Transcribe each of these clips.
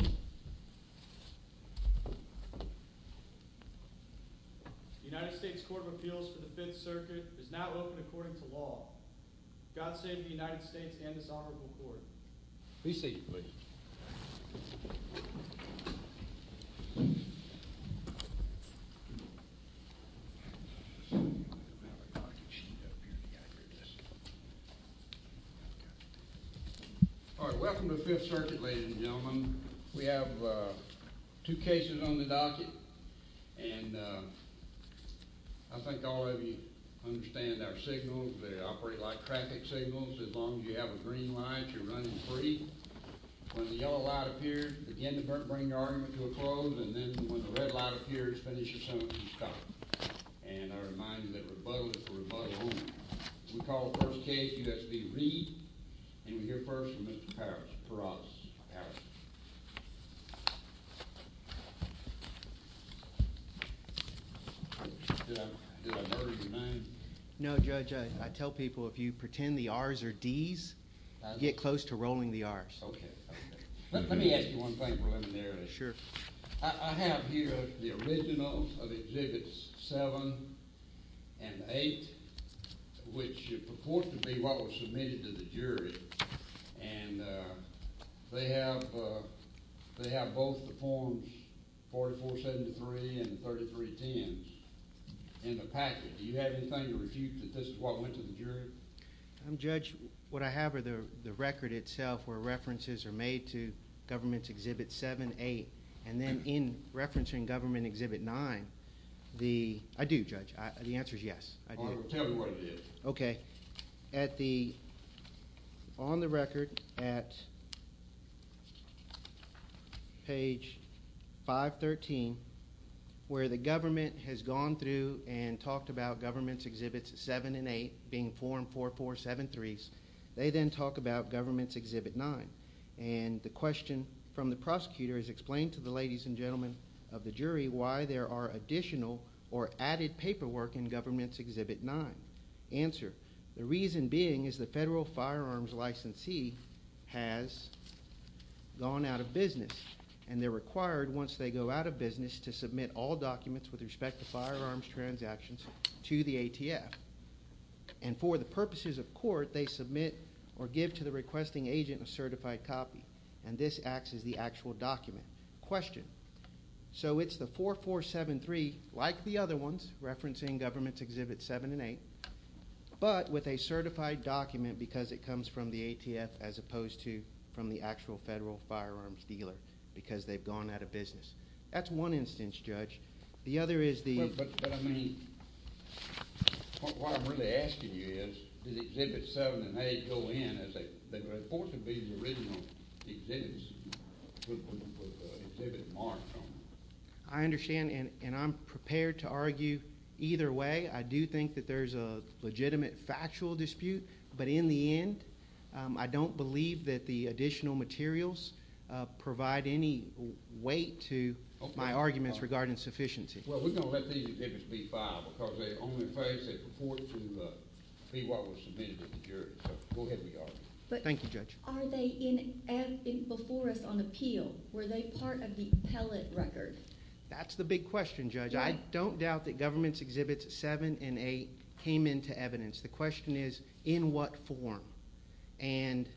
The United States Court of Appeals for the Fifth Circuit is not open according to law. God save the United States and this honorable court. Be seated, please. Welcome to the Fifth Circuit, ladies and gentlemen. We have two cases on the docket. And I think all of you understand our signals. They operate like traffic signals. As long as you have a green light, you're running free. When the yellow light appears, begin to bring your argument to a close. And then when the red light appears, finish your sentence and stop. And I remind you that rebuttal is for rebuttal only. We call the first case, U.S. v. Reid. And we hear first from Mr. Parrish. Parrish. Did I murder your name? No, Judge. I tell people if you pretend the R's are D's, get close to rolling the R's. Okay. Let me ask you one thing preliminarily. Sure. I have here the originals of Exhibits 7 and 8, which purport to be what was submitted to the jury. And they have both the forms 4473 and 3310s in the package. Do you have anything to refute that this is what went to the jury? Judge, what I have are the record itself where references are made to Government's Exhibit 7, 8. And then in referencing Government Exhibit 9, the—I do, Judge. The answer is yes. Tell me what it is. Okay. At the—on the record at page 513, where the government has gone through and talked about Government's Exhibits 7 and 8 being form 4473s, they then talk about Government's Exhibit 9. And the question from the prosecutor is explained to the ladies and gentlemen of the jury why there are additional or added paperwork in Government's Exhibit 9. Answer. The reason being is the federal firearms licensee has gone out of business. And they're required, once they go out of business, to submit all documents with respect to firearms transactions to the ATF. And for the purposes of court, they submit or give to the requesting agent a certified copy. And this acts as the actual document. Question. So it's the 4473, like the other ones, referencing Government's Exhibits 7 and 8, but with a certified document because it comes from the ATF as opposed to from the actual federal firearms dealer because they've gone out of business. That's one instance, Judge. The other is the— But I mean, what I'm really asking you is, did Exhibits 7 and 8 go in as they were reported to be the original exhibits with the exhibit marked on them? I understand, and I'm prepared to argue either way. I do think that there's a legitimate factual dispute. But in the end, I don't believe that the additional materials provide any weight to my arguments regarding sufficiency. Well, we're going to let these exhibits be filed because they only face a report to be what was submitted to the jury. So go ahead, we argue. Thank you, Judge. Are they before us on appeal? Were they part of the pellet record? That's the big question, Judge. I don't doubt that Government's Exhibits 7 and 8 came into evidence. The question is, in what form? And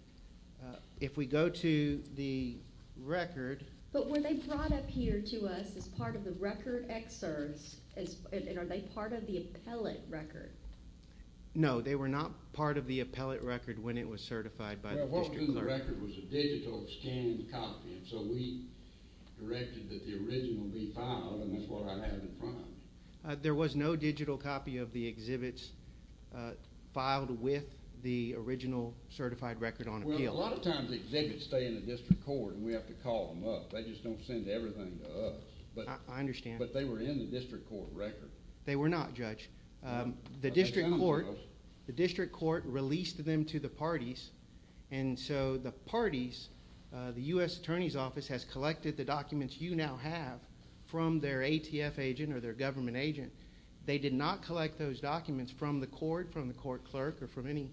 if we go to the record— But were they brought up here to us as part of the record excerpts, and are they part of the pellet record? No, they were not part of the pellet record when it was certified by the district court. Well, what was in the record was a digital scanned copy. And so we directed that the original be filed, and that's what I have in front of me. There was no digital copy of the exhibits filed with the original certified record on appeal. Well, a lot of times exhibits stay in the district court, and we have to call them up. They just don't send everything to us. I understand. But they were in the district court record. They were not, Judge. The district court released them to the parties. And so the parties, the U.S. Attorney's Office has collected the documents you now have from their ATF agent or their government agent. They did not collect those documents from the court, from the court clerk, or from any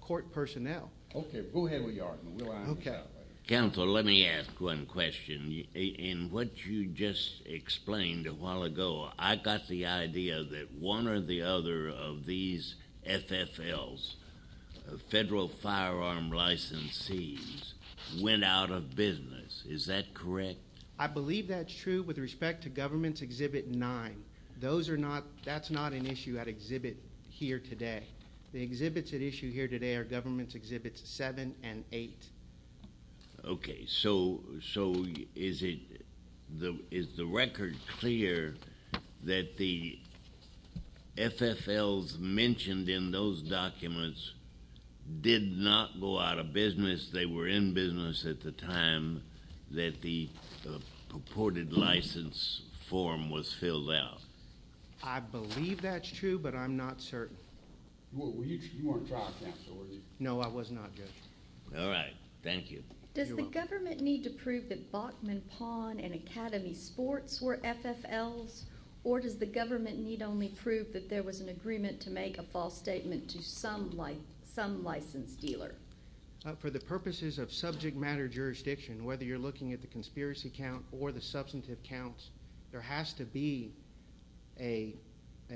court personnel. Okay. Go ahead with your argument. We'll iron this out later. Counsel, let me ask one question. In what you just explained a while ago, I got the idea that one or the other of these FFLs, federal firearm licensees, went out of business. Is that correct? I believe that's true with respect to Government's Exhibit 9. That's not an issue at Exhibit here today. The exhibits at issue here today are Government's Exhibits 7 and 8. Okay. So is the record clear that the FFLs mentioned in those documents did not go out of business? They were in business at the time that the purported license form was filled out. I believe that's true, but I'm not certain. You weren't trial counsel, were you? No, I was not, Judge. All right. Thank you. You're welcome. Does the government need to prove that Bachman Pawn and Academy Sports were FFLs, or does the government need only prove that there was an agreement to make a false statement to some license dealer? For the purposes of subject matter jurisdiction, whether you're looking at the conspiracy count or the substantive counts, there has to be a –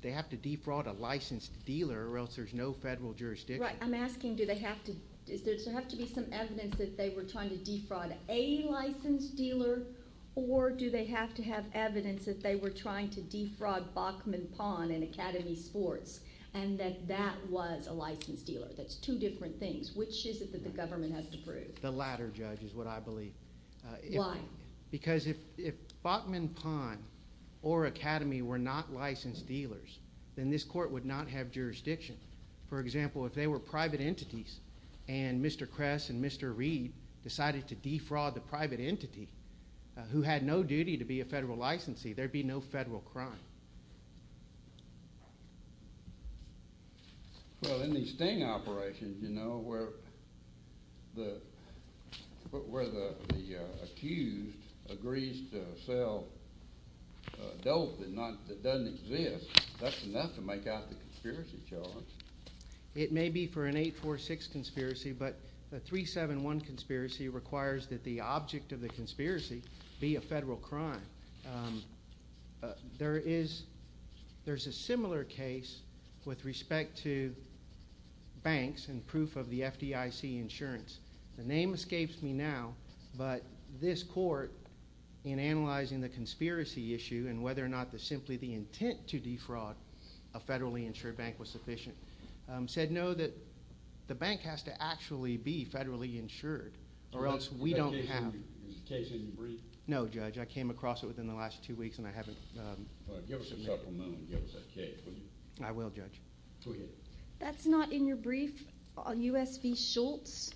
they have to defraud a licensed dealer or else there's no federal jurisdiction. Right. I'm asking do they have to – does there have to be some evidence that they were trying to defraud a licensed dealer, or do they have to have evidence that they were trying to defraud Bachman Pawn and Academy Sports and that that was a licensed dealer? That's two different things. Which is it that the government has to prove? The latter, Judge, is what I believe. Why? Because if Bachman Pawn or Academy were not licensed dealers, then this court would not have jurisdiction. For example, if they were private entities and Mr. Kress and Mr. Reed decided to defraud the private entity who had no duty to be a federal licensee, there'd be no federal crime. Well, in these sting operations, you know, where the accused agrees to sell dope that doesn't exist, that's enough to make out the conspiracy charge. It may be for an 846 conspiracy, but a 371 conspiracy requires that the object of the conspiracy be a federal crime. There is a similar case with respect to banks and proof of the FDIC insurance. The name escapes me now, but this court, in analyzing the conspiracy issue and whether or not simply the intent to defraud a federally insured bank was sufficient, said no, that the bank has to actually be federally insured or else we don't have to. Is the case in brief? No, Judge. I came across it within the last two weeks and I haven't submitted it. Give us a supplemental and give us a case, will you? I will, Judge. Go ahead. That's not in your brief, USV Schultz,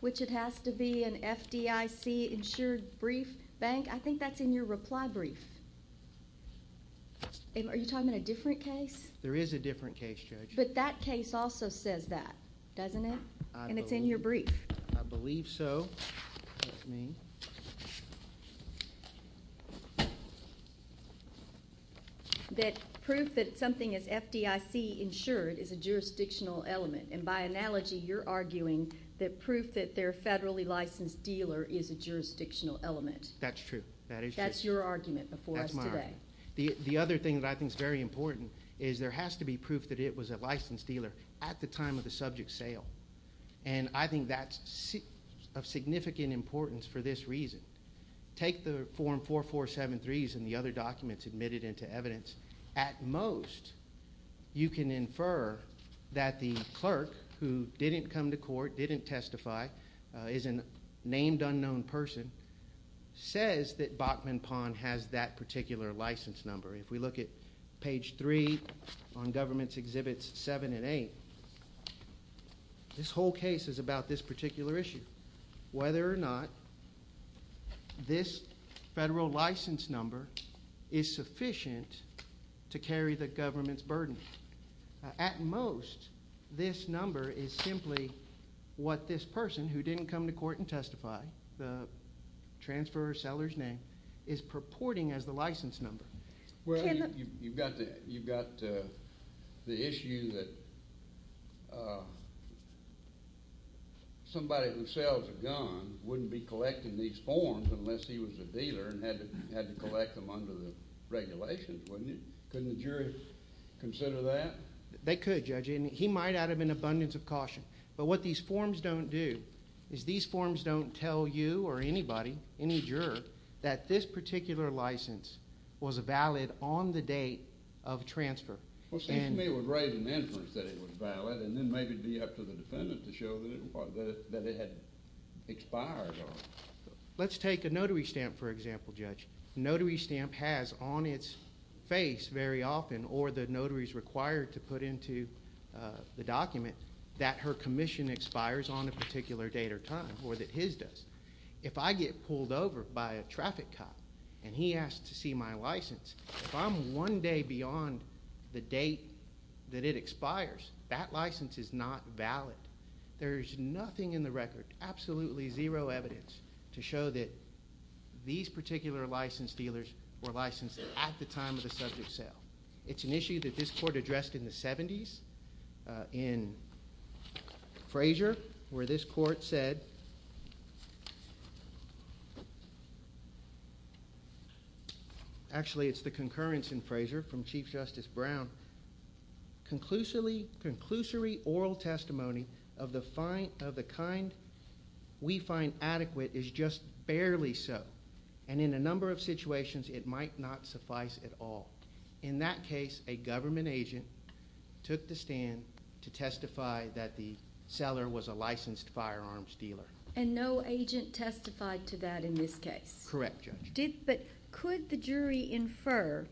which it has to be an FDIC insured brief bank? I think that's in your reply brief. Are you talking about a different case? There is a different case, Judge. But that case also says that, doesn't it? And it's in your brief. I believe so. That proof that something is FDIC insured is a jurisdictional element, and by analogy you're arguing that proof that they're a federally licensed dealer is a jurisdictional element. That's true. That's your argument before us today. The other thing that I think is very important is there has to be proof that it was a licensed dealer at the time of the subject sale, and I think that's of significant importance for this reason. Take the Form 4473s and the other documents admitted into evidence. At most, you can infer that the clerk who didn't come to court, didn't testify, is a named unknown person, says that Bachman Pond has that particular license number. If we look at Page 3 on Governments Exhibits 7 and 8, this whole case is about this particular issue, whether or not this federal license number is sufficient to carry the government's burden. At most, this number is simply what this person who didn't come to court and testify, the transfer seller's name, is purporting as the license number. Well, you've got the issue that somebody who sells a gun wouldn't be collecting these forms unless he was a dealer and had to collect them under the regulations, wouldn't he? Couldn't the jury consider that? They could, Judge, and he might out of an abundance of caution, but what these forms don't do is these forms don't tell you or anybody, any juror, that this particular license was valid on the date of transfer. Well, it seems to me it would raise an inference that it was valid and then maybe it would be up to the defendant to show that it had expired. Let's take a notary stamp, for example, Judge. A notary stamp has on its face very often, or the notary is required to put into the document, that her commission expires on a particular date or time, or that his does. If I get pulled over by a traffic cop and he asks to see my license, if I'm one day beyond the date that it expires, that license is not valid. There is nothing in the record, absolutely zero evidence, to show that these particular licensed dealers were licensed at the time of the subject sale. It's an issue that this court addressed in the 70s in Fraser where this court said, actually it's the concurrence in Fraser from Chief Justice Brown, conclusory oral testimony of the kind we find adequate is just barely so, and in a number of situations it might not suffice at all. In that case, a government agent took the stand to testify that the seller was a licensed firearms dealer. And no agent testified to that in this case? Correct, Judge. But could the jury infer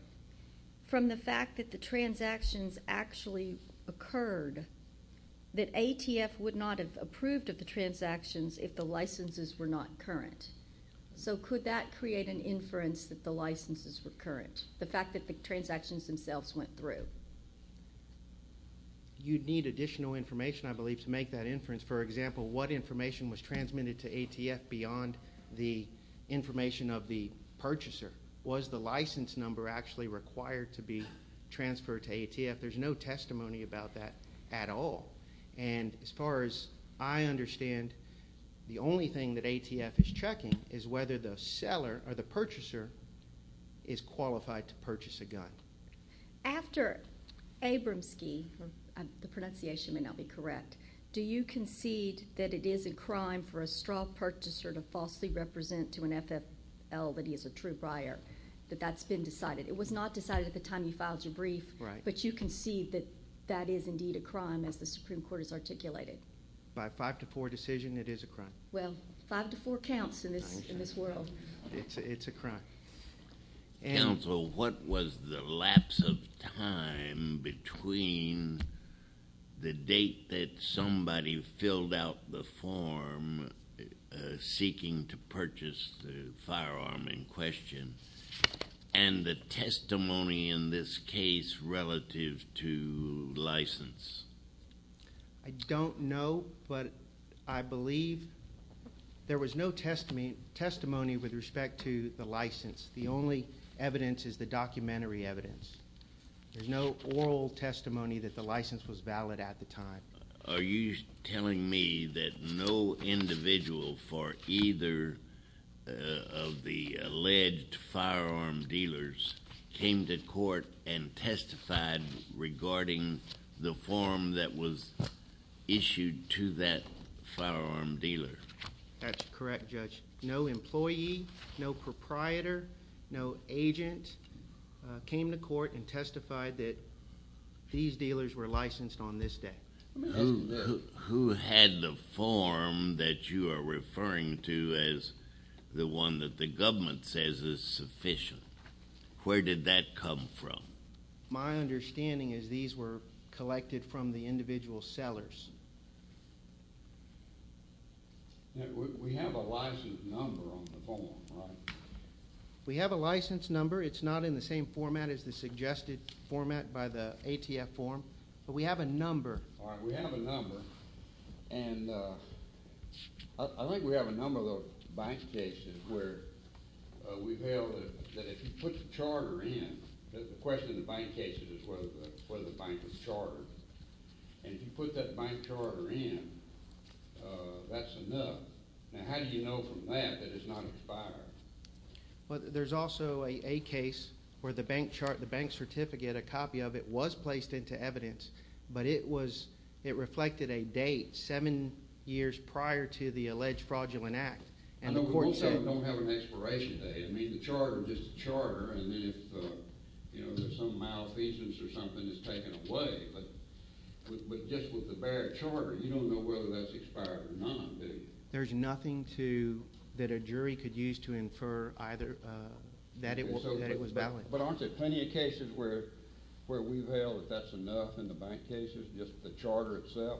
from the fact that the transactions actually occurred that ATF would not have approved of the transactions if the licenses were not current? So could that create an inference that the licenses were current? The fact that the transactions themselves went through? You'd need additional information, I believe, to make that inference. For example, what information was transmitted to ATF beyond the information of the purchaser? Was the license number actually required to be transferred to ATF? There's no testimony about that at all. And as far as I understand, the only thing that ATF is checking is whether the seller or the purchaser is qualified to purchase a gun. After Abramski, the pronunciation may not be correct, do you concede that it is a crime for a straw purchaser to falsely represent to an FFL that he is a true briar, that that's been decided? It was not decided at the time you filed your brief, but you concede that that is indeed a crime as the Supreme Court has articulated? By a 5-4 decision, it is a crime. Well, 5-4 counts in this world. It's a crime. Counsel, what was the lapse of time between the date that somebody filled out the form seeking to purchase the firearm in question and the testimony in this case relative to license? I don't know, but I believe there was no testimony with respect to the license. The only evidence is the documentary evidence. There's no oral testimony that the license was valid at the time. Are you telling me that no individual for either of the alleged firearm dealers came to court and testified regarding the form that was issued to that firearm dealer? That's correct, Judge. No employee, no proprietor, no agent came to court and testified that these dealers were licensed on this day. Who had the form that you are referring to as the one that the government says is sufficient? Where did that come from? My understanding is these were collected from the individual sellers. We have a license number on the form, right? We have a license number. It's not in the same format as the suggested format by the ATF form, but we have a number. We have a number, and I think we have a number of bank cases where we've held that if you put the charter in, the question in the bank case is whether the bank was chartered, and if you put that bank charter in, that's enough. Now, how do you know from that that it's not expired? There's also a case where the bank certificate, a copy of it, was placed into evidence, but it reflected a date seven years prior to the alleged fraudulent act. Most of them don't have an expiration date. I mean, the charter is just a charter, and then if there's some malfeasance or something, it's taken away. But just with the barrier charter, you don't know whether that's expired or not, do you? There's nothing that a jury could use to infer that it was valid. But aren't there plenty of cases where we've held that that's enough in the bank cases, just the charter itself?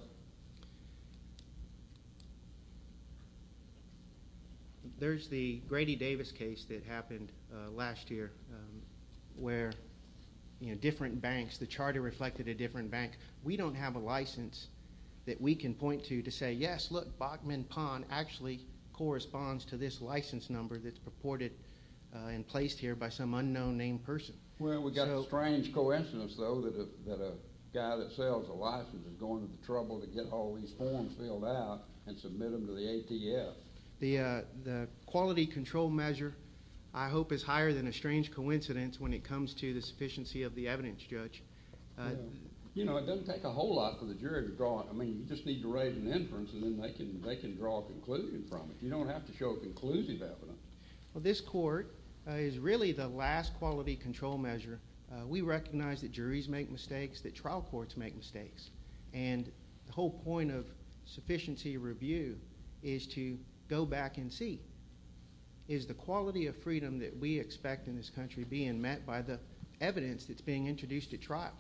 There's the Grady Davis case that happened last year where different banks, the charter reflected a different bank. We don't have a license that we can point to to say, yes, look, Bachman Pond actually corresponds to this license number that's purported and placed here by some unknown named person. Well, we've got a strange coincidence, though, that a guy that sells a license is going to trouble to get all these forms filled out and submit them to the ATF. The quality control measure, I hope, is higher than a strange coincidence when it comes to the sufficiency of the evidence, Judge. You know, it doesn't take a whole lot for the jury to draw it. I mean, you just need to write an inference, and then they can draw a conclusion from it. You don't have to show a conclusive evidence. Well, this court is really the last quality control measure. We recognize that juries make mistakes, that trial courts make mistakes. And the whole point of sufficiency review is to go back and see, is the quality of freedom that we expect in this country being met by the evidence that's being introduced at trial.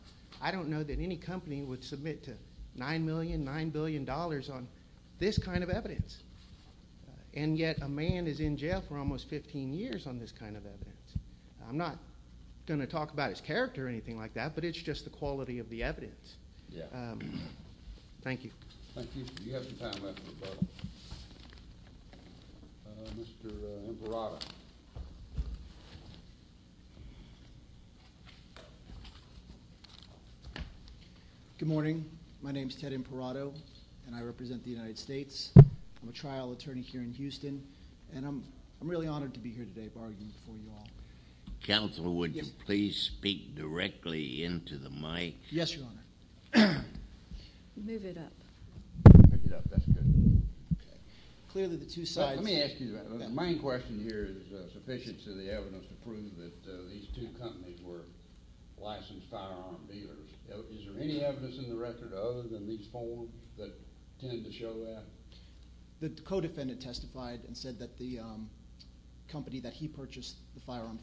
I don't know that any company would submit to $9 million, $9 billion on this kind of evidence. And yet a man is in jail for almost 15 years on this kind of evidence. I'm not going to talk about his character or anything like that, but it's just the quality of the evidence. Thank you. Thank you. We have some time left for questions. Mr. Imperato. Good morning. My name is Ted Imperato, and I represent the United States. I'm a trial attorney here in Houston, and I'm really honored to be here today bargaining for you all. Counsel, would you please speak directly into the mic? Yes, Your Honor. Move it up. Pick it up. That's good. Okay. Clearly the two sides. Let me ask you, the main question here is sufficiency of the evidence to prove that these two companies were licensed firearm dealers. Is there any evidence in the record other than these four that tend to show that? The co-defendant testified and said that the company that he purchased the firearm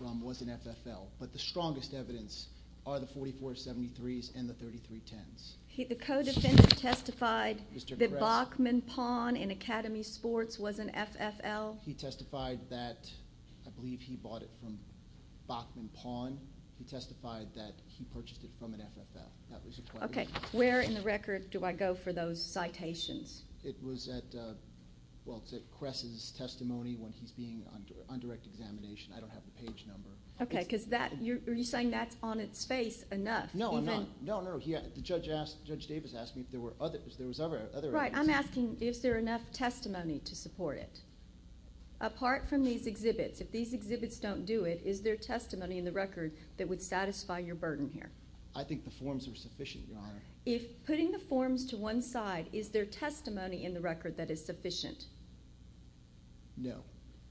from was an FFL. But the strongest evidence are the 4473s and the 3310s. The co-defendant testified that Bachman Pawn in Academy Sports was an FFL? He testified that I believe he bought it from Bachman Pawn. He testified that he purchased it from an FFL. Okay. Where in the record do I go for those citations? It was at Cress's testimony when he's being on direct examination. I don't have the page number. Okay. Are you saying that's on its face enough? No, no. Judge Davis asked me if there was other evidence. Right. I'm asking if there's enough testimony to support it. Apart from these exhibits, if these exhibits don't do it, is there testimony in the record that would satisfy your burden here? I think the forms are sufficient, Your Honor. If putting the forms to one side, is there testimony in the record that is sufficient? No.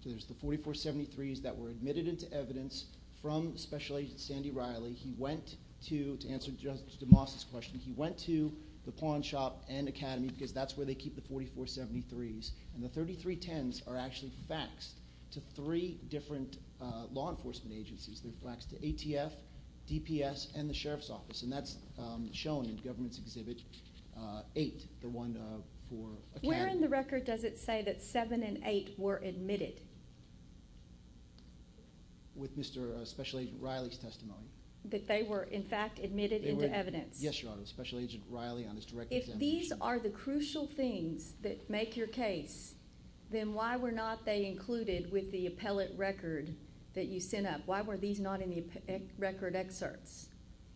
There's the 4473s that were admitted into evidence from Special Agent Sandy Riley. He went to, to answer Judge DeMoss' question, he went to the pawn shop and Academy because that's where they keep the 4473s. And the 3310s are actually faxed to three different law enforcement agencies. They're faxed to ATF, DPS, and the Sheriff's Office. And that's shown in Government's Exhibit 8, the one for Academy. Where in the record does it say that 7 and 8 were admitted? With Mr. Special Agent Riley's testimony. That they were, in fact, admitted into evidence. Yes, Your Honor. Special Agent Riley on his direct examination. If these are the crucial things that make your case, then why were not they included with the appellate record that you sent up? Why were these not in the record excerpts?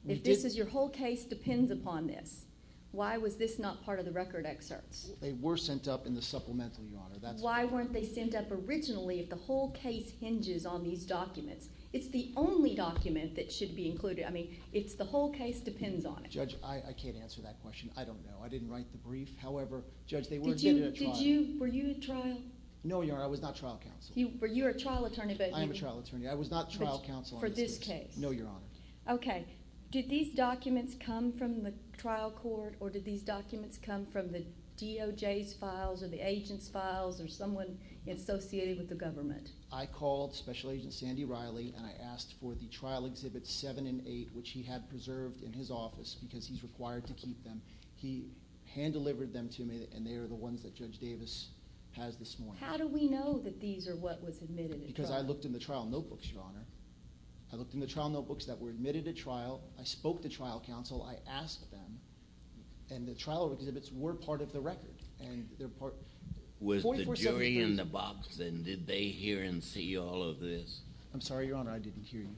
If this is your whole case depends upon this, why was this not part of the record excerpts? They were sent up in the supplemental, Your Honor. That's why. Why weren't they sent up originally if the whole case hinges on these documents? It's the only document that should be included. I mean, it's the whole case depends on it. Judge, I can't answer that question. I don't know. I didn't write the brief. However, Judge, they were admitted at trial. Did you, were you at trial? No, Your Honor. I was not trial counsel. Were you a trial attorney? I am a trial attorney. I was not trial counsel on this case. For this case? No, Your Honor. Okay. Did these documents come from the trial court or did these documents come from the DOJ's files or the agent's files or someone associated with the government? I called Special Agent Sandy Riley and I asked for the trial exhibits seven and eight, which he had preserved in his office because he's required to keep them. He hand-delivered them to me and they are the ones that Judge Davis has this morning. How do we know that these are what was admitted at trial? Because I looked in the trial notebooks, Your Honor. I looked in the trial notebooks that were admitted at trial. I spoke to trial counsel. I asked them and the trial exhibits were part of the record and they're part. Was the jury in the box and did they hear and see all of this? I'm sorry, Your Honor. I didn't hear you.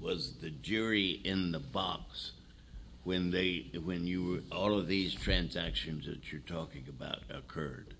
Was the jury in the box when you were, all of these transactions that you're talking about occurred?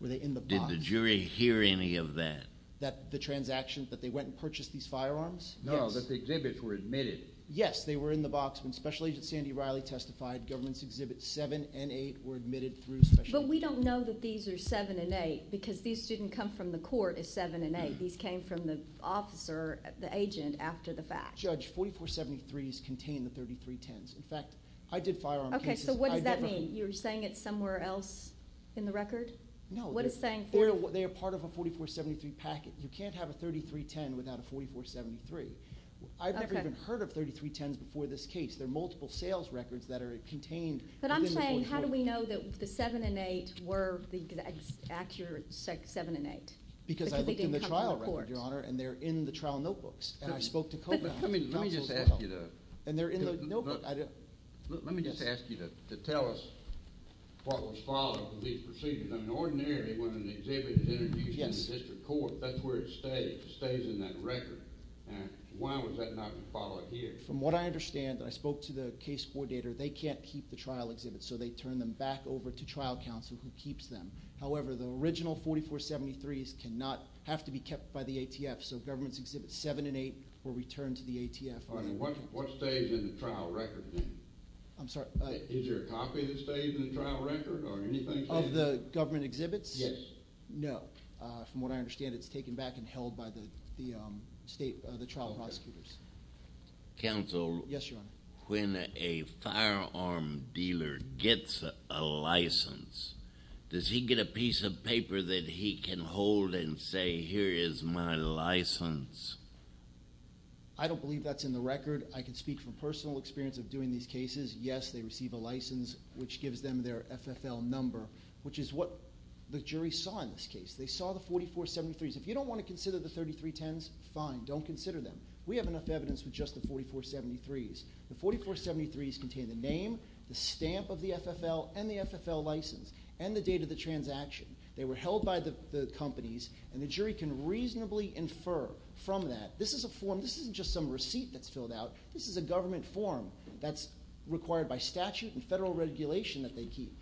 Were they in the box? Did the jury hear any of that? That the transactions, that they went and purchased these firearms? No, that the exhibits were admitted. Yes, they were in the box when Special Agent Sandy Riley testified. Governments Exhibits 7 and 8 were admitted through Special Agent Riley. But we don't know that these are 7 and 8 because these didn't come from the court as 7 and 8. These came from the officer, the agent, after the fact. Judge, 4473s contain the 3310s. In fact, I did firearm cases. Okay, so what does that mean? You're saying it's somewhere else in the record? No. What are you saying? They are part of a 4473 packet. You can't have a 3310 without a 4473. I've never even heard of 3310s before this case. There are multiple sales records that are contained within the 4473. But I'm saying how do we know that the 7 and 8 were the accurate 7 and 8? Because I looked in the trial record, Your Honor, and they're in the trial notebooks. And I spoke to co-counsel as well. Let me just ask you to tell us what was followed in these proceedings. I mean, ordinarily when an exhibit is introduced to the district court, that's where it stays. It stays in that record. Why was that not followed here? From what I understand, and I spoke to the case coordinator, they can't keep the trial exhibits, so they turn them back over to trial counsel who keeps them. However, the original 4473s cannot have to be kept by the ATF, so Governments Exhibits 7 and 8 were returned to the ATF. What stays in the trial record then? I'm sorry? Is there a copy that stays in the trial record or anything? Of the government exhibits? Yes. No. From what I understand, it's taken back and held by the state trial prosecutors. Counsel? Yes, Your Honor. When a firearm dealer gets a license, does he get a piece of paper that he can hold and say, here is my license? I don't believe that's in the record. I can speak from personal experience of doing these cases. Yes, they receive a license, which gives them their FFL number, which is what the jury saw in this case. They saw the 4473s. If you don't want to consider the 3310s, fine, don't consider them. We have enough evidence with just the 4473s. The 4473s contain the name, the stamp of the FFL, and the FFL license, and the date of the transaction. They were held by the companies, and the jury can reasonably infer from that. This is a form. This isn't just some receipt that's filled out. This is a government form that's required by statute and federal regulation that they keep.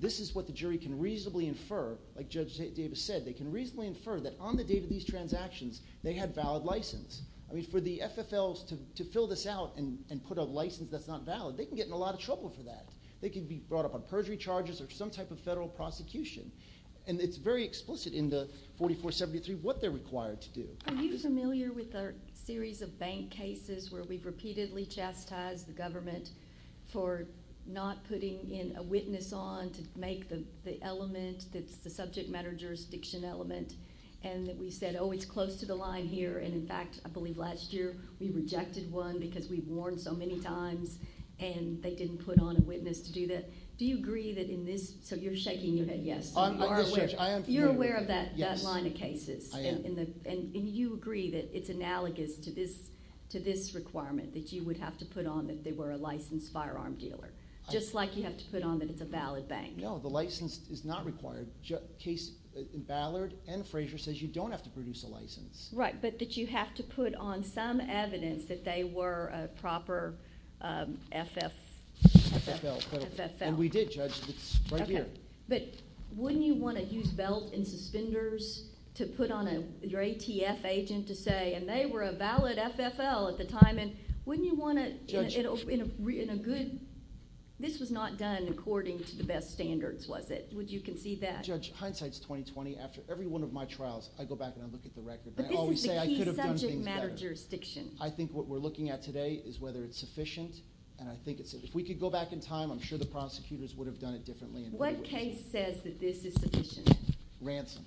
This is what the jury can reasonably infer. Like Judge Davis said, they can reasonably infer that on the date of these transactions, they had valid license. For the FFLs to fill this out and put a license that's not valid, they can get in a lot of trouble for that. They can be brought up on perjury charges or some type of federal prosecution. It's very explicit in the 4473 what they're required to do. Are you familiar with our series of bank cases where we've repeatedly chastised the government for not putting in a witness on to make the element that's the subject matter jurisdiction element, and that we said, oh, it's close to the line here. In fact, I believe last year we rejected one because we've warned so many times, and they didn't put on a witness to do that. Do you agree that in this... You're shaking your head yes. You're aware of that line of cases. You agree that it's analogous to this requirement that you would have to put on if they were a licensed firearm dealer, just like you have to put on that it's a valid bank. No, the license is not required. The case in Ballard and Frazier says you don't have to produce a license. Right, but that you have to put on some evidence that they were a proper FFL. We did, Judge. It's right here. But wouldn't you want to use belt and suspenders to put on your ATF agent to say, and they were a valid FFL at the time, wouldn't you want to in a good... This was not done according to the best standards, was it? Would you concede that? Judge, hindsight's 20-20. After every one of my trials, I go back and I look at the record. But this is the key subject matter jurisdiction. I think what we're looking at today is whether it's sufficient, and I think it's... If we could go back in time, I'm sure the prosecutors would have done it differently. What case says that this is sufficient? Ransom.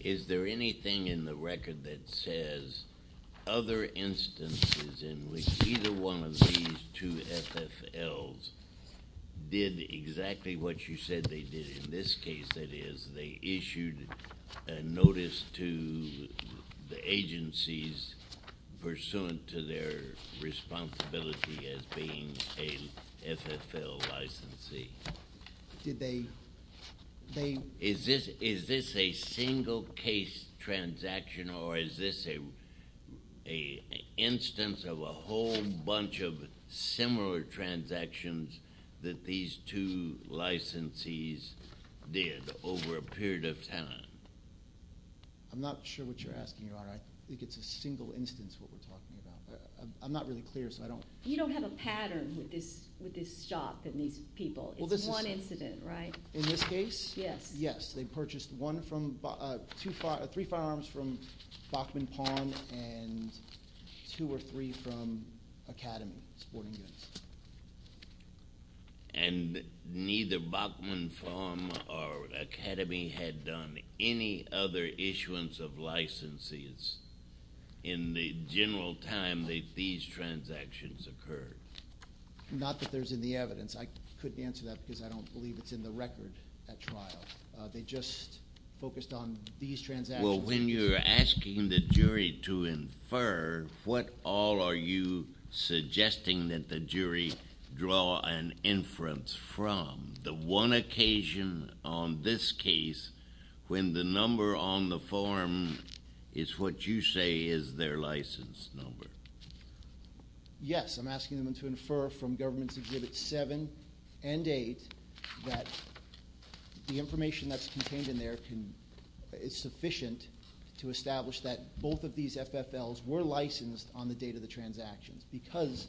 Is there anything in the record that says other instances in which either one of these two FFLs did exactly what you said they did? In this case, that is, they issued a notice to the agencies pursuant to their responsibility as being a FFL licensee. Did they... Is this a single-case transaction, or is this an instance of a whole bunch of similar transactions that these two licensees did over a period of time? I'm not sure what you're asking, Your Honor. I think it's a single instance of what we're talking about. I'm not really clear, so I don't... You don't have a pattern with this stock and these people. It's one incident, right? In this case? Yes. They purchased three firearms from Bachman Pawn and two or three from Academy Sporting Goods. And neither Bachman Pawn or Academy had done any other issuance of licensees in the general time that these transactions occurred? Not that there's any evidence. I couldn't answer that because I don't believe it's in the record at trial. They just focused on these transactions. Well, when you're asking the jury to infer, what all are you suggesting that the jury draw an inference from? The one occasion on this case when the number on the form is what you say is their license number. Yes, I'm asking them to infer from Governments Exhibits 7 and 8 that the information that's contained in there is sufficient to establish that both of these FFLs were licensed on the date of the transactions because...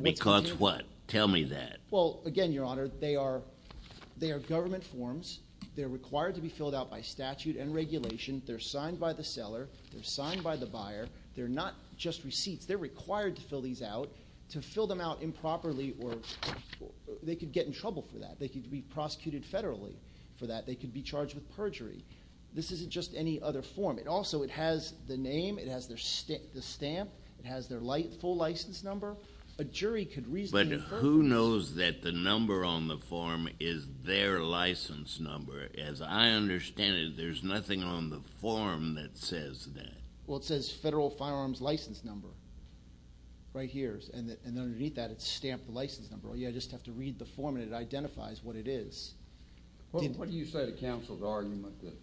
Because what? Tell me that. Well, again, Your Honor, they are government forms. They're required to be filled out by statute and regulation. They're signed by the seller. They're signed by the buyer. They're not just receipts. They're required to fill these out. To fill them out improperly, they could get in trouble for that. They could be prosecuted federally for that. They could be charged with perjury. This isn't just any other form. Also, it has the name. It has the stamp. It has their full license number. A jury could reasonably infer... But who knows that the number on the form is their license number? As I understand it, there's nothing on the form that says that. Well, it says Federal Firearms License Number right here. Underneath that, it's stamped the license number. You just have to read the form, and it identifies what it is. What do you say to counsel's argument that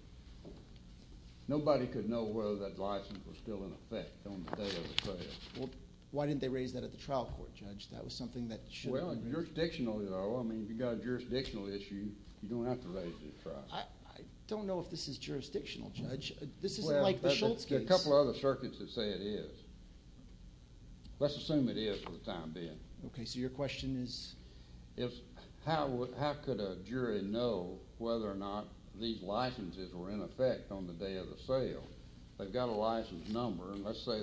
nobody could know whether that license was still in effect on the day of the trial? Why didn't they raise that at the trial court, Judge? That was something that should have been... Well, jurisdictional, though. I mean, if you've got a jurisdictional issue, you don't have to raise it at trial. I don't know if this is jurisdictional, Judge. This isn't like the Schultz case. There are a couple of other circuits that say it is. Let's assume it is for the time being. Okay, so your question is... How could a jury know whether or not these licenses were in effect on the day of the sale? They've got a license number. Let's say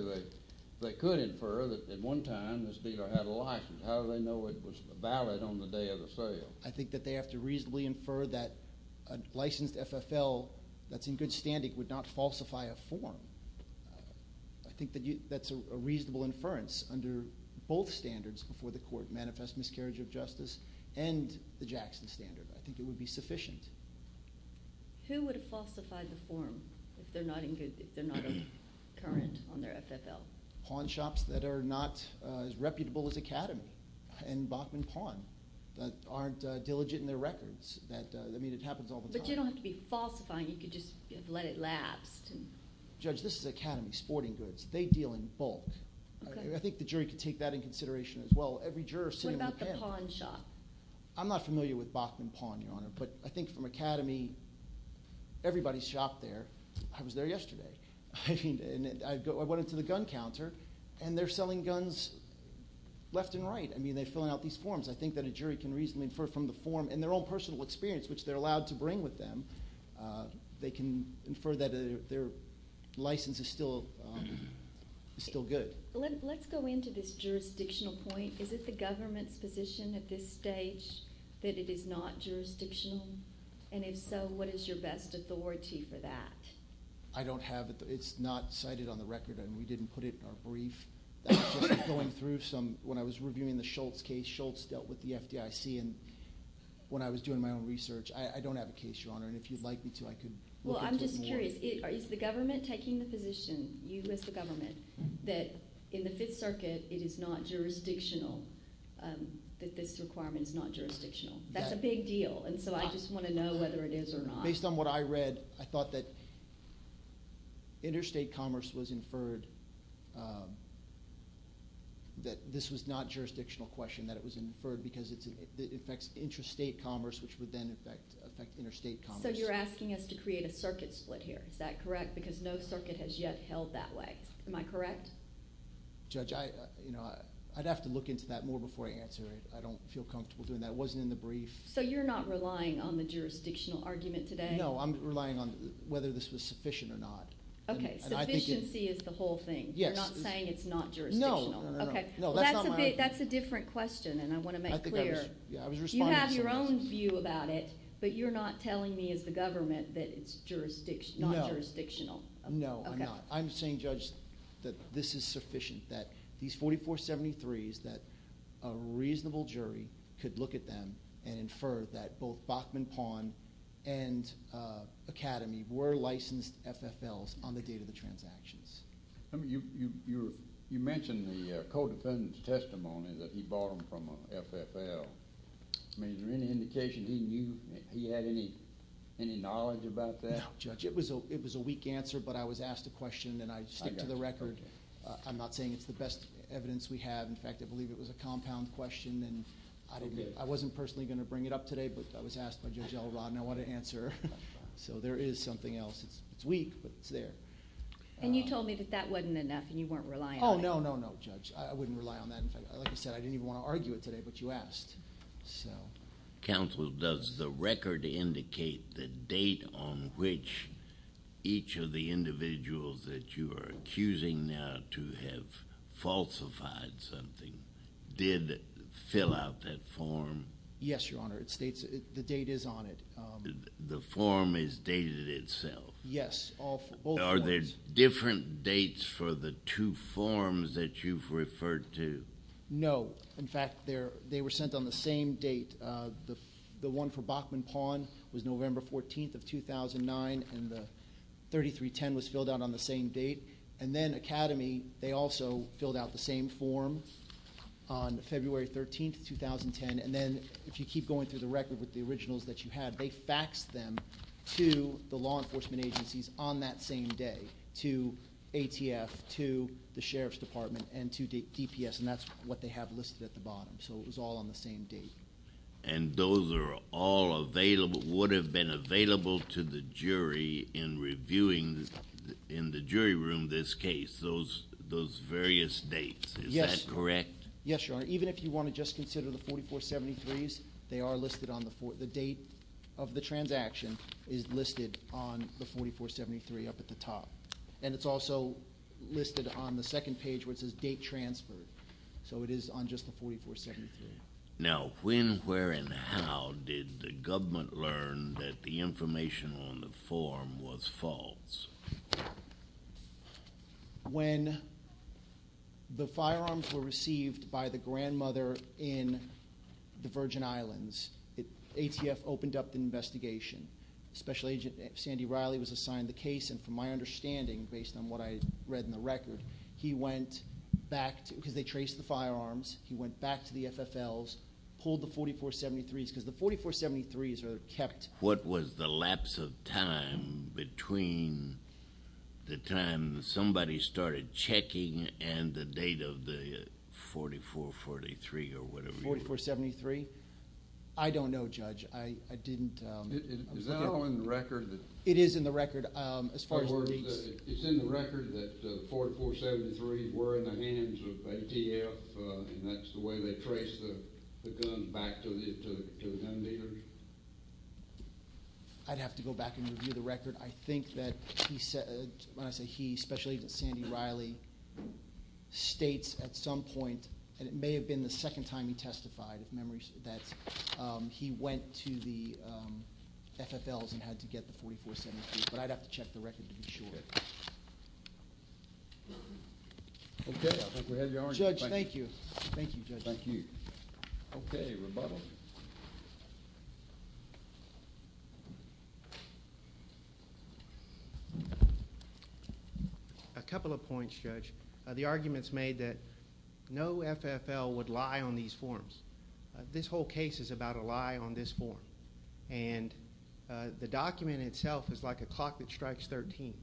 they could infer that at one time this dealer had a license. How do they know it was valid on the day of the sale? I think that they have to reasonably infer that a licensed FFL that's in good standing would not falsify a form. I think that's a reasonable inference under both standards before the court, manifest miscarriage of justice and the Jackson standard. I think it would be sufficient. Who would falsify the form if they're not current on their FFL? Pawn shops that are not as reputable as Academy and Bachman Pawn that aren't diligent in their records. I mean, it happens all the time. But you don't have to be falsifying. You could just let it lapse. Judge, this is Academy Sporting Goods. They deal in bulk. I think the jury could take that in consideration as well. Every juror sitting on the panel... What about the pawn shop? I'm not familiar with Bachman Pawn, Your Honor, but I think from Academy, everybody's shopped there. I was there yesterday. I went into the gun counter, and they're selling guns left and right. I mean, they're filling out these forms. I think that a jury can reasonably infer from the form and their own personal experience, which they're allowed to bring with them, they can infer that their license is still good. Let's go into this jurisdictional point. Is it the government's position at this stage that it is not jurisdictional? And if so, what is your best authority for that? I don't have it. It's not cited on the record, and we didn't put it in our brief. That's just going through some... When I was reviewing the Schultz case, Schultz dealt with the FDIC. When I was doing my own research, I don't have a case, Your Honor, and if you'd like me to, I could look into it. Well, I'm just curious. Is the government taking the position, you as the government, that in the Fifth Circuit it is not jurisdictional, that this requirement is not jurisdictional? That's a big deal, and so I just want to know whether it is or not. Based on what I read, I thought that interstate commerce was inferred, that this was not a jurisdictional question, that it was inferred because it affects interstate commerce, which would then affect interstate commerce. So you're asking us to create a circuit split here. Is that correct? Because no circuit has yet held that way. Am I correct? Judge, I'd have to look into that more before I answer it. I don't feel comfortable doing that. It wasn't in the brief. So you're not relying on the jurisdictional argument today? No. I'm relying on whether this was sufficient or not. Okay. Sufficiency is the whole thing. Yes. You're not saying it's not jurisdictional? No. Okay. No, that's not my argument. That's not my question, and I want to make clear. I think I was responding to some questions. You have your own view about it, but you're not telling me as the government that it's not jurisdictional. No, I'm not. I'm saying, Judge, that this is sufficient, that these 4473s, that a reasonable jury could look at them and infer that both Bachman Pond and Academy were licensed FFLs on the date of the transactions. You mentioned the co-defendant's testimony that he bought them from FFL. I mean, is there any indication he had any knowledge about that? No, Judge. It was a weak answer, but I was asked a question, and I stick to the record. I'm not saying it's the best evidence we have. In fact, I believe it was a compound question, and I wasn't personally going to bring it up today, but I was asked by Judge L. Rodden I want to answer. So there is something else. It's weak, but it's there. And you told me that that wasn't enough and you weren't relying on it. Oh, no, no, no, Judge. I wouldn't rely on that. In fact, like I said, I didn't even want to argue it today, but you asked. Counsel, does the record indicate the date on which each of the individuals that you are accusing now to have falsified something did fill out that form? Yes, Your Honor. It states the date is on it. The form is dated itself? Yes. Are there different dates for the two forms that you've referred to? No. In fact, they were sent on the same date. The one for Bachman Pawn was November 14th of 2009, and the 3310 was filled out on the same date. And then Academy, they also filled out the same form on February 13th, 2010. And then if you keep going through the record with the originals that you had, they faxed them to the law enforcement agencies on that same day, to ATF, to the Sheriff's Department, and to DPS, and that's what they have listed at the bottom. So it was all on the same date. And those are all available, would have been available to the jury in reviewing in the jury room this case, those various dates. Is that correct? Yes, Your Honor. Even if you want to just consider the 4473s, they are listed on the date of the transaction is listed on the 4473 up at the top. And it's also listed on the second page where it says date transferred. So it is on just the 4473. Now when, where, and how did the government learn that the information on the form was false? When the firearms were received by the grandmother in the Virgin Islands, ATF opened up the investigation. Special Agent Sandy Riley was assigned the case, and from my understanding based on what I read in the record, he went back because they traced the firearms, he went back to the FFLs, pulled the 4473s because the 4473s are kept. What was the lapse of time between the time somebody started checking and the date of the 4443 or whatever? The 4473? I don't know, Judge. I didn't. Is that all in the record? It is in the record as far as the dates. It's in the record that the 4473s were in the hands of ATF, and that's the way they traced the guns back to the gun dealers? I'd have to go back and review the record. I think that when I say he, Special Agent Sandy Riley states at some point, and it may have been the second time he testified if memory serves, that he went to the FFLs and had to get the 4473, but I'd have to check the record to be sure. Okay. I think we have your argument. Judge, thank you. Thank you, Judge. Thank you. Okay, rebuttal. A couple of points, Judge. The argument's made that no FFL would lie on these forms. This whole case is about a lie on this form, and the document itself is like a clock that strikes 13.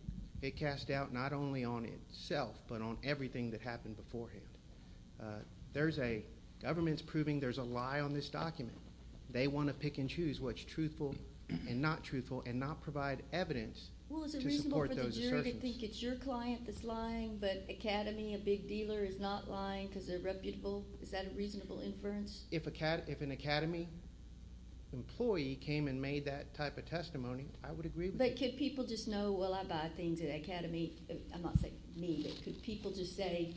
It casts doubt not only on itself but on everything that happened beforehand. There's a government's proving there's a lie on this document. They want to pick and choose what's truthful and not truthful and not provide evidence to support those assertions. You could think it's your client that's lying, but Academy, a big dealer, is not lying because they're reputable. Is that a reasonable inference? If an Academy employee came and made that type of testimony, I would agree with you. But could people just know, well, I buy things at Academy. I'm not saying me, but could people just say?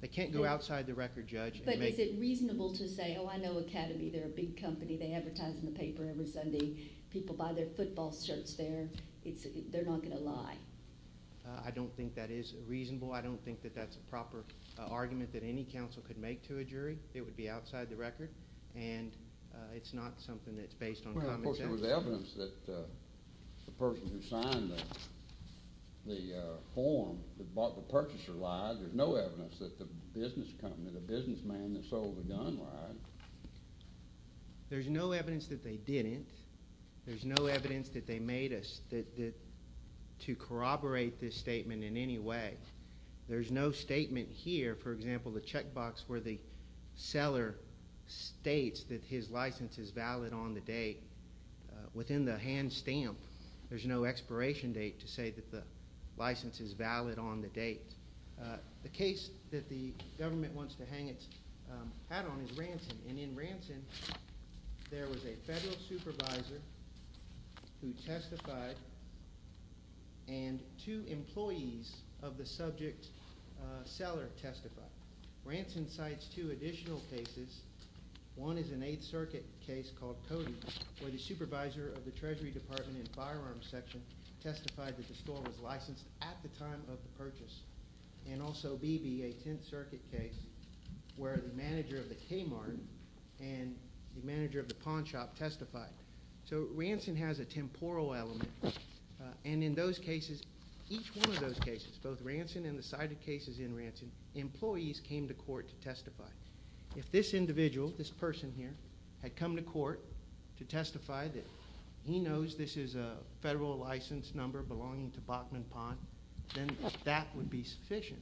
They can't go outside the record, Judge. But is it reasonable to say, oh, I know Academy. They're a big company. They advertise in the paper every Sunday. People buy their football shirts there. They're not going to lie. I don't think that is reasonable. I don't think that that's a proper argument that any counsel could make to a jury. It would be outside the record. And it's not something that's based on common sense. Well, of course, there was evidence that the person who signed the form that bought the purchaser lied. There's no evidence that the business company, the businessman that sold the gun lied. There's no evidence that they didn't. There's no evidence that they made us to corroborate this statement in any way. There's no statement here, for example, the checkbox where the seller states that his license is valid on the date. Within the hand stamp, there's no expiration date to say that the license is valid on the date. The case that the government wants to hang its hat on is Ranson. And in Ranson, there was a federal supervisor who testified and two employees of the subject seller testified. Ranson cites two additional cases. One is an Eighth Circuit case called Cody where the supervisor of the Treasury Department in the firearms section testified that the store was licensed at the time of the purchase. And also B.B., a Tenth Circuit case where the manager of the Kmart and the manager of the pawn shop testified. So Ranson has a temporal element. And in those cases, each one of those cases, both Ranson and the cited cases in Ranson, employees came to court to testify. If this individual, this person here, had come to court to testify that he knows this is a federal license number belonging to Bachman Pawn, then that would be sufficient.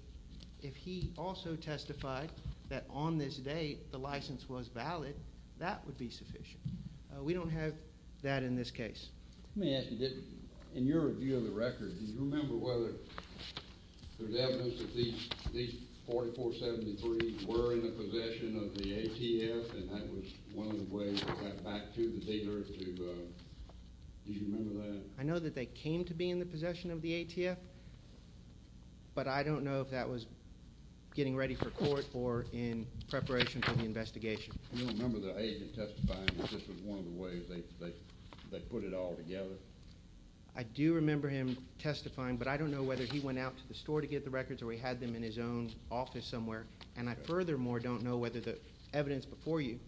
If he also testified that on this date the license was valid, that would be sufficient. We don't have that in this case. Let me ask you, in your view of the record, do you remember whether there's evidence that these 4473s were in the possession of the ATF? And that was one of the ways to get back to the dealer to – do you remember that? I know that they came to be in the possession of the ATF, but I don't know if that was getting ready for court or in preparation for the investigation. I don't remember the agent testifying if this was one of the ways they put it all together. I do remember him testifying, but I don't know whether he went out to the store to get the records or he had them in his own office somewhere. And I furthermore don't know whether the evidence before you,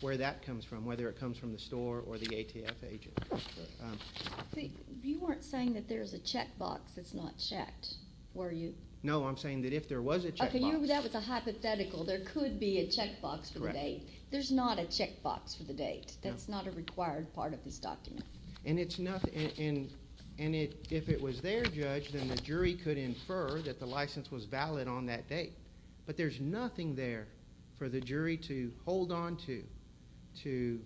where that comes from, whether it comes from the store or the ATF agent. You weren't saying that there's a checkbox that's not checked, were you? No, I'm saying that if there was a checkbox – There's not a checkbox for the date. That's not a required part of this document. And if it was their judge, then the jury could infer that the license was valid on that date. But there's nothing there for the jury to hold onto to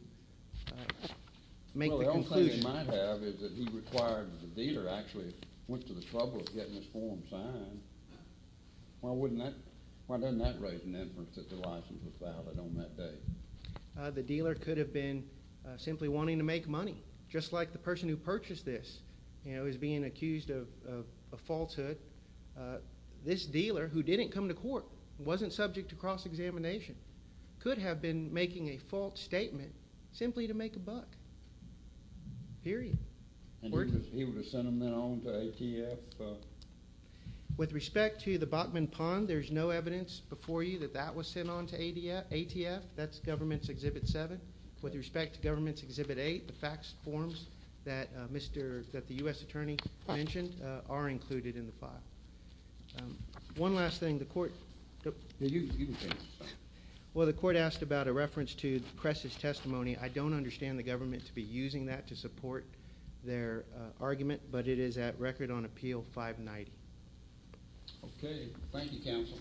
make the conclusion. Well, the only thing they might have is that he required that the dealer actually went to the trouble of getting his form signed. Why doesn't that raise an inference that the license was valid on that date? The dealer could have been simply wanting to make money. Just like the person who purchased this is being accused of falsehood. This dealer, who didn't come to court, wasn't subject to cross-examination, could have been making a false statement simply to make a buck. Period. And he would have sent them then on to ATF? With respect to the Bachman Pond, there's no evidence before you that that was sent on to ATF. That's Government's Exhibit 7. With respect to Government's Exhibit 8, the fax forms that the U.S. attorney mentioned are included in the file. One last thing, the court – Well, the court asked about a reference to the press's testimony. I don't understand the government to be using that to support their argument, but it is at record on Appeal 590. Okay. Thank you, counsel.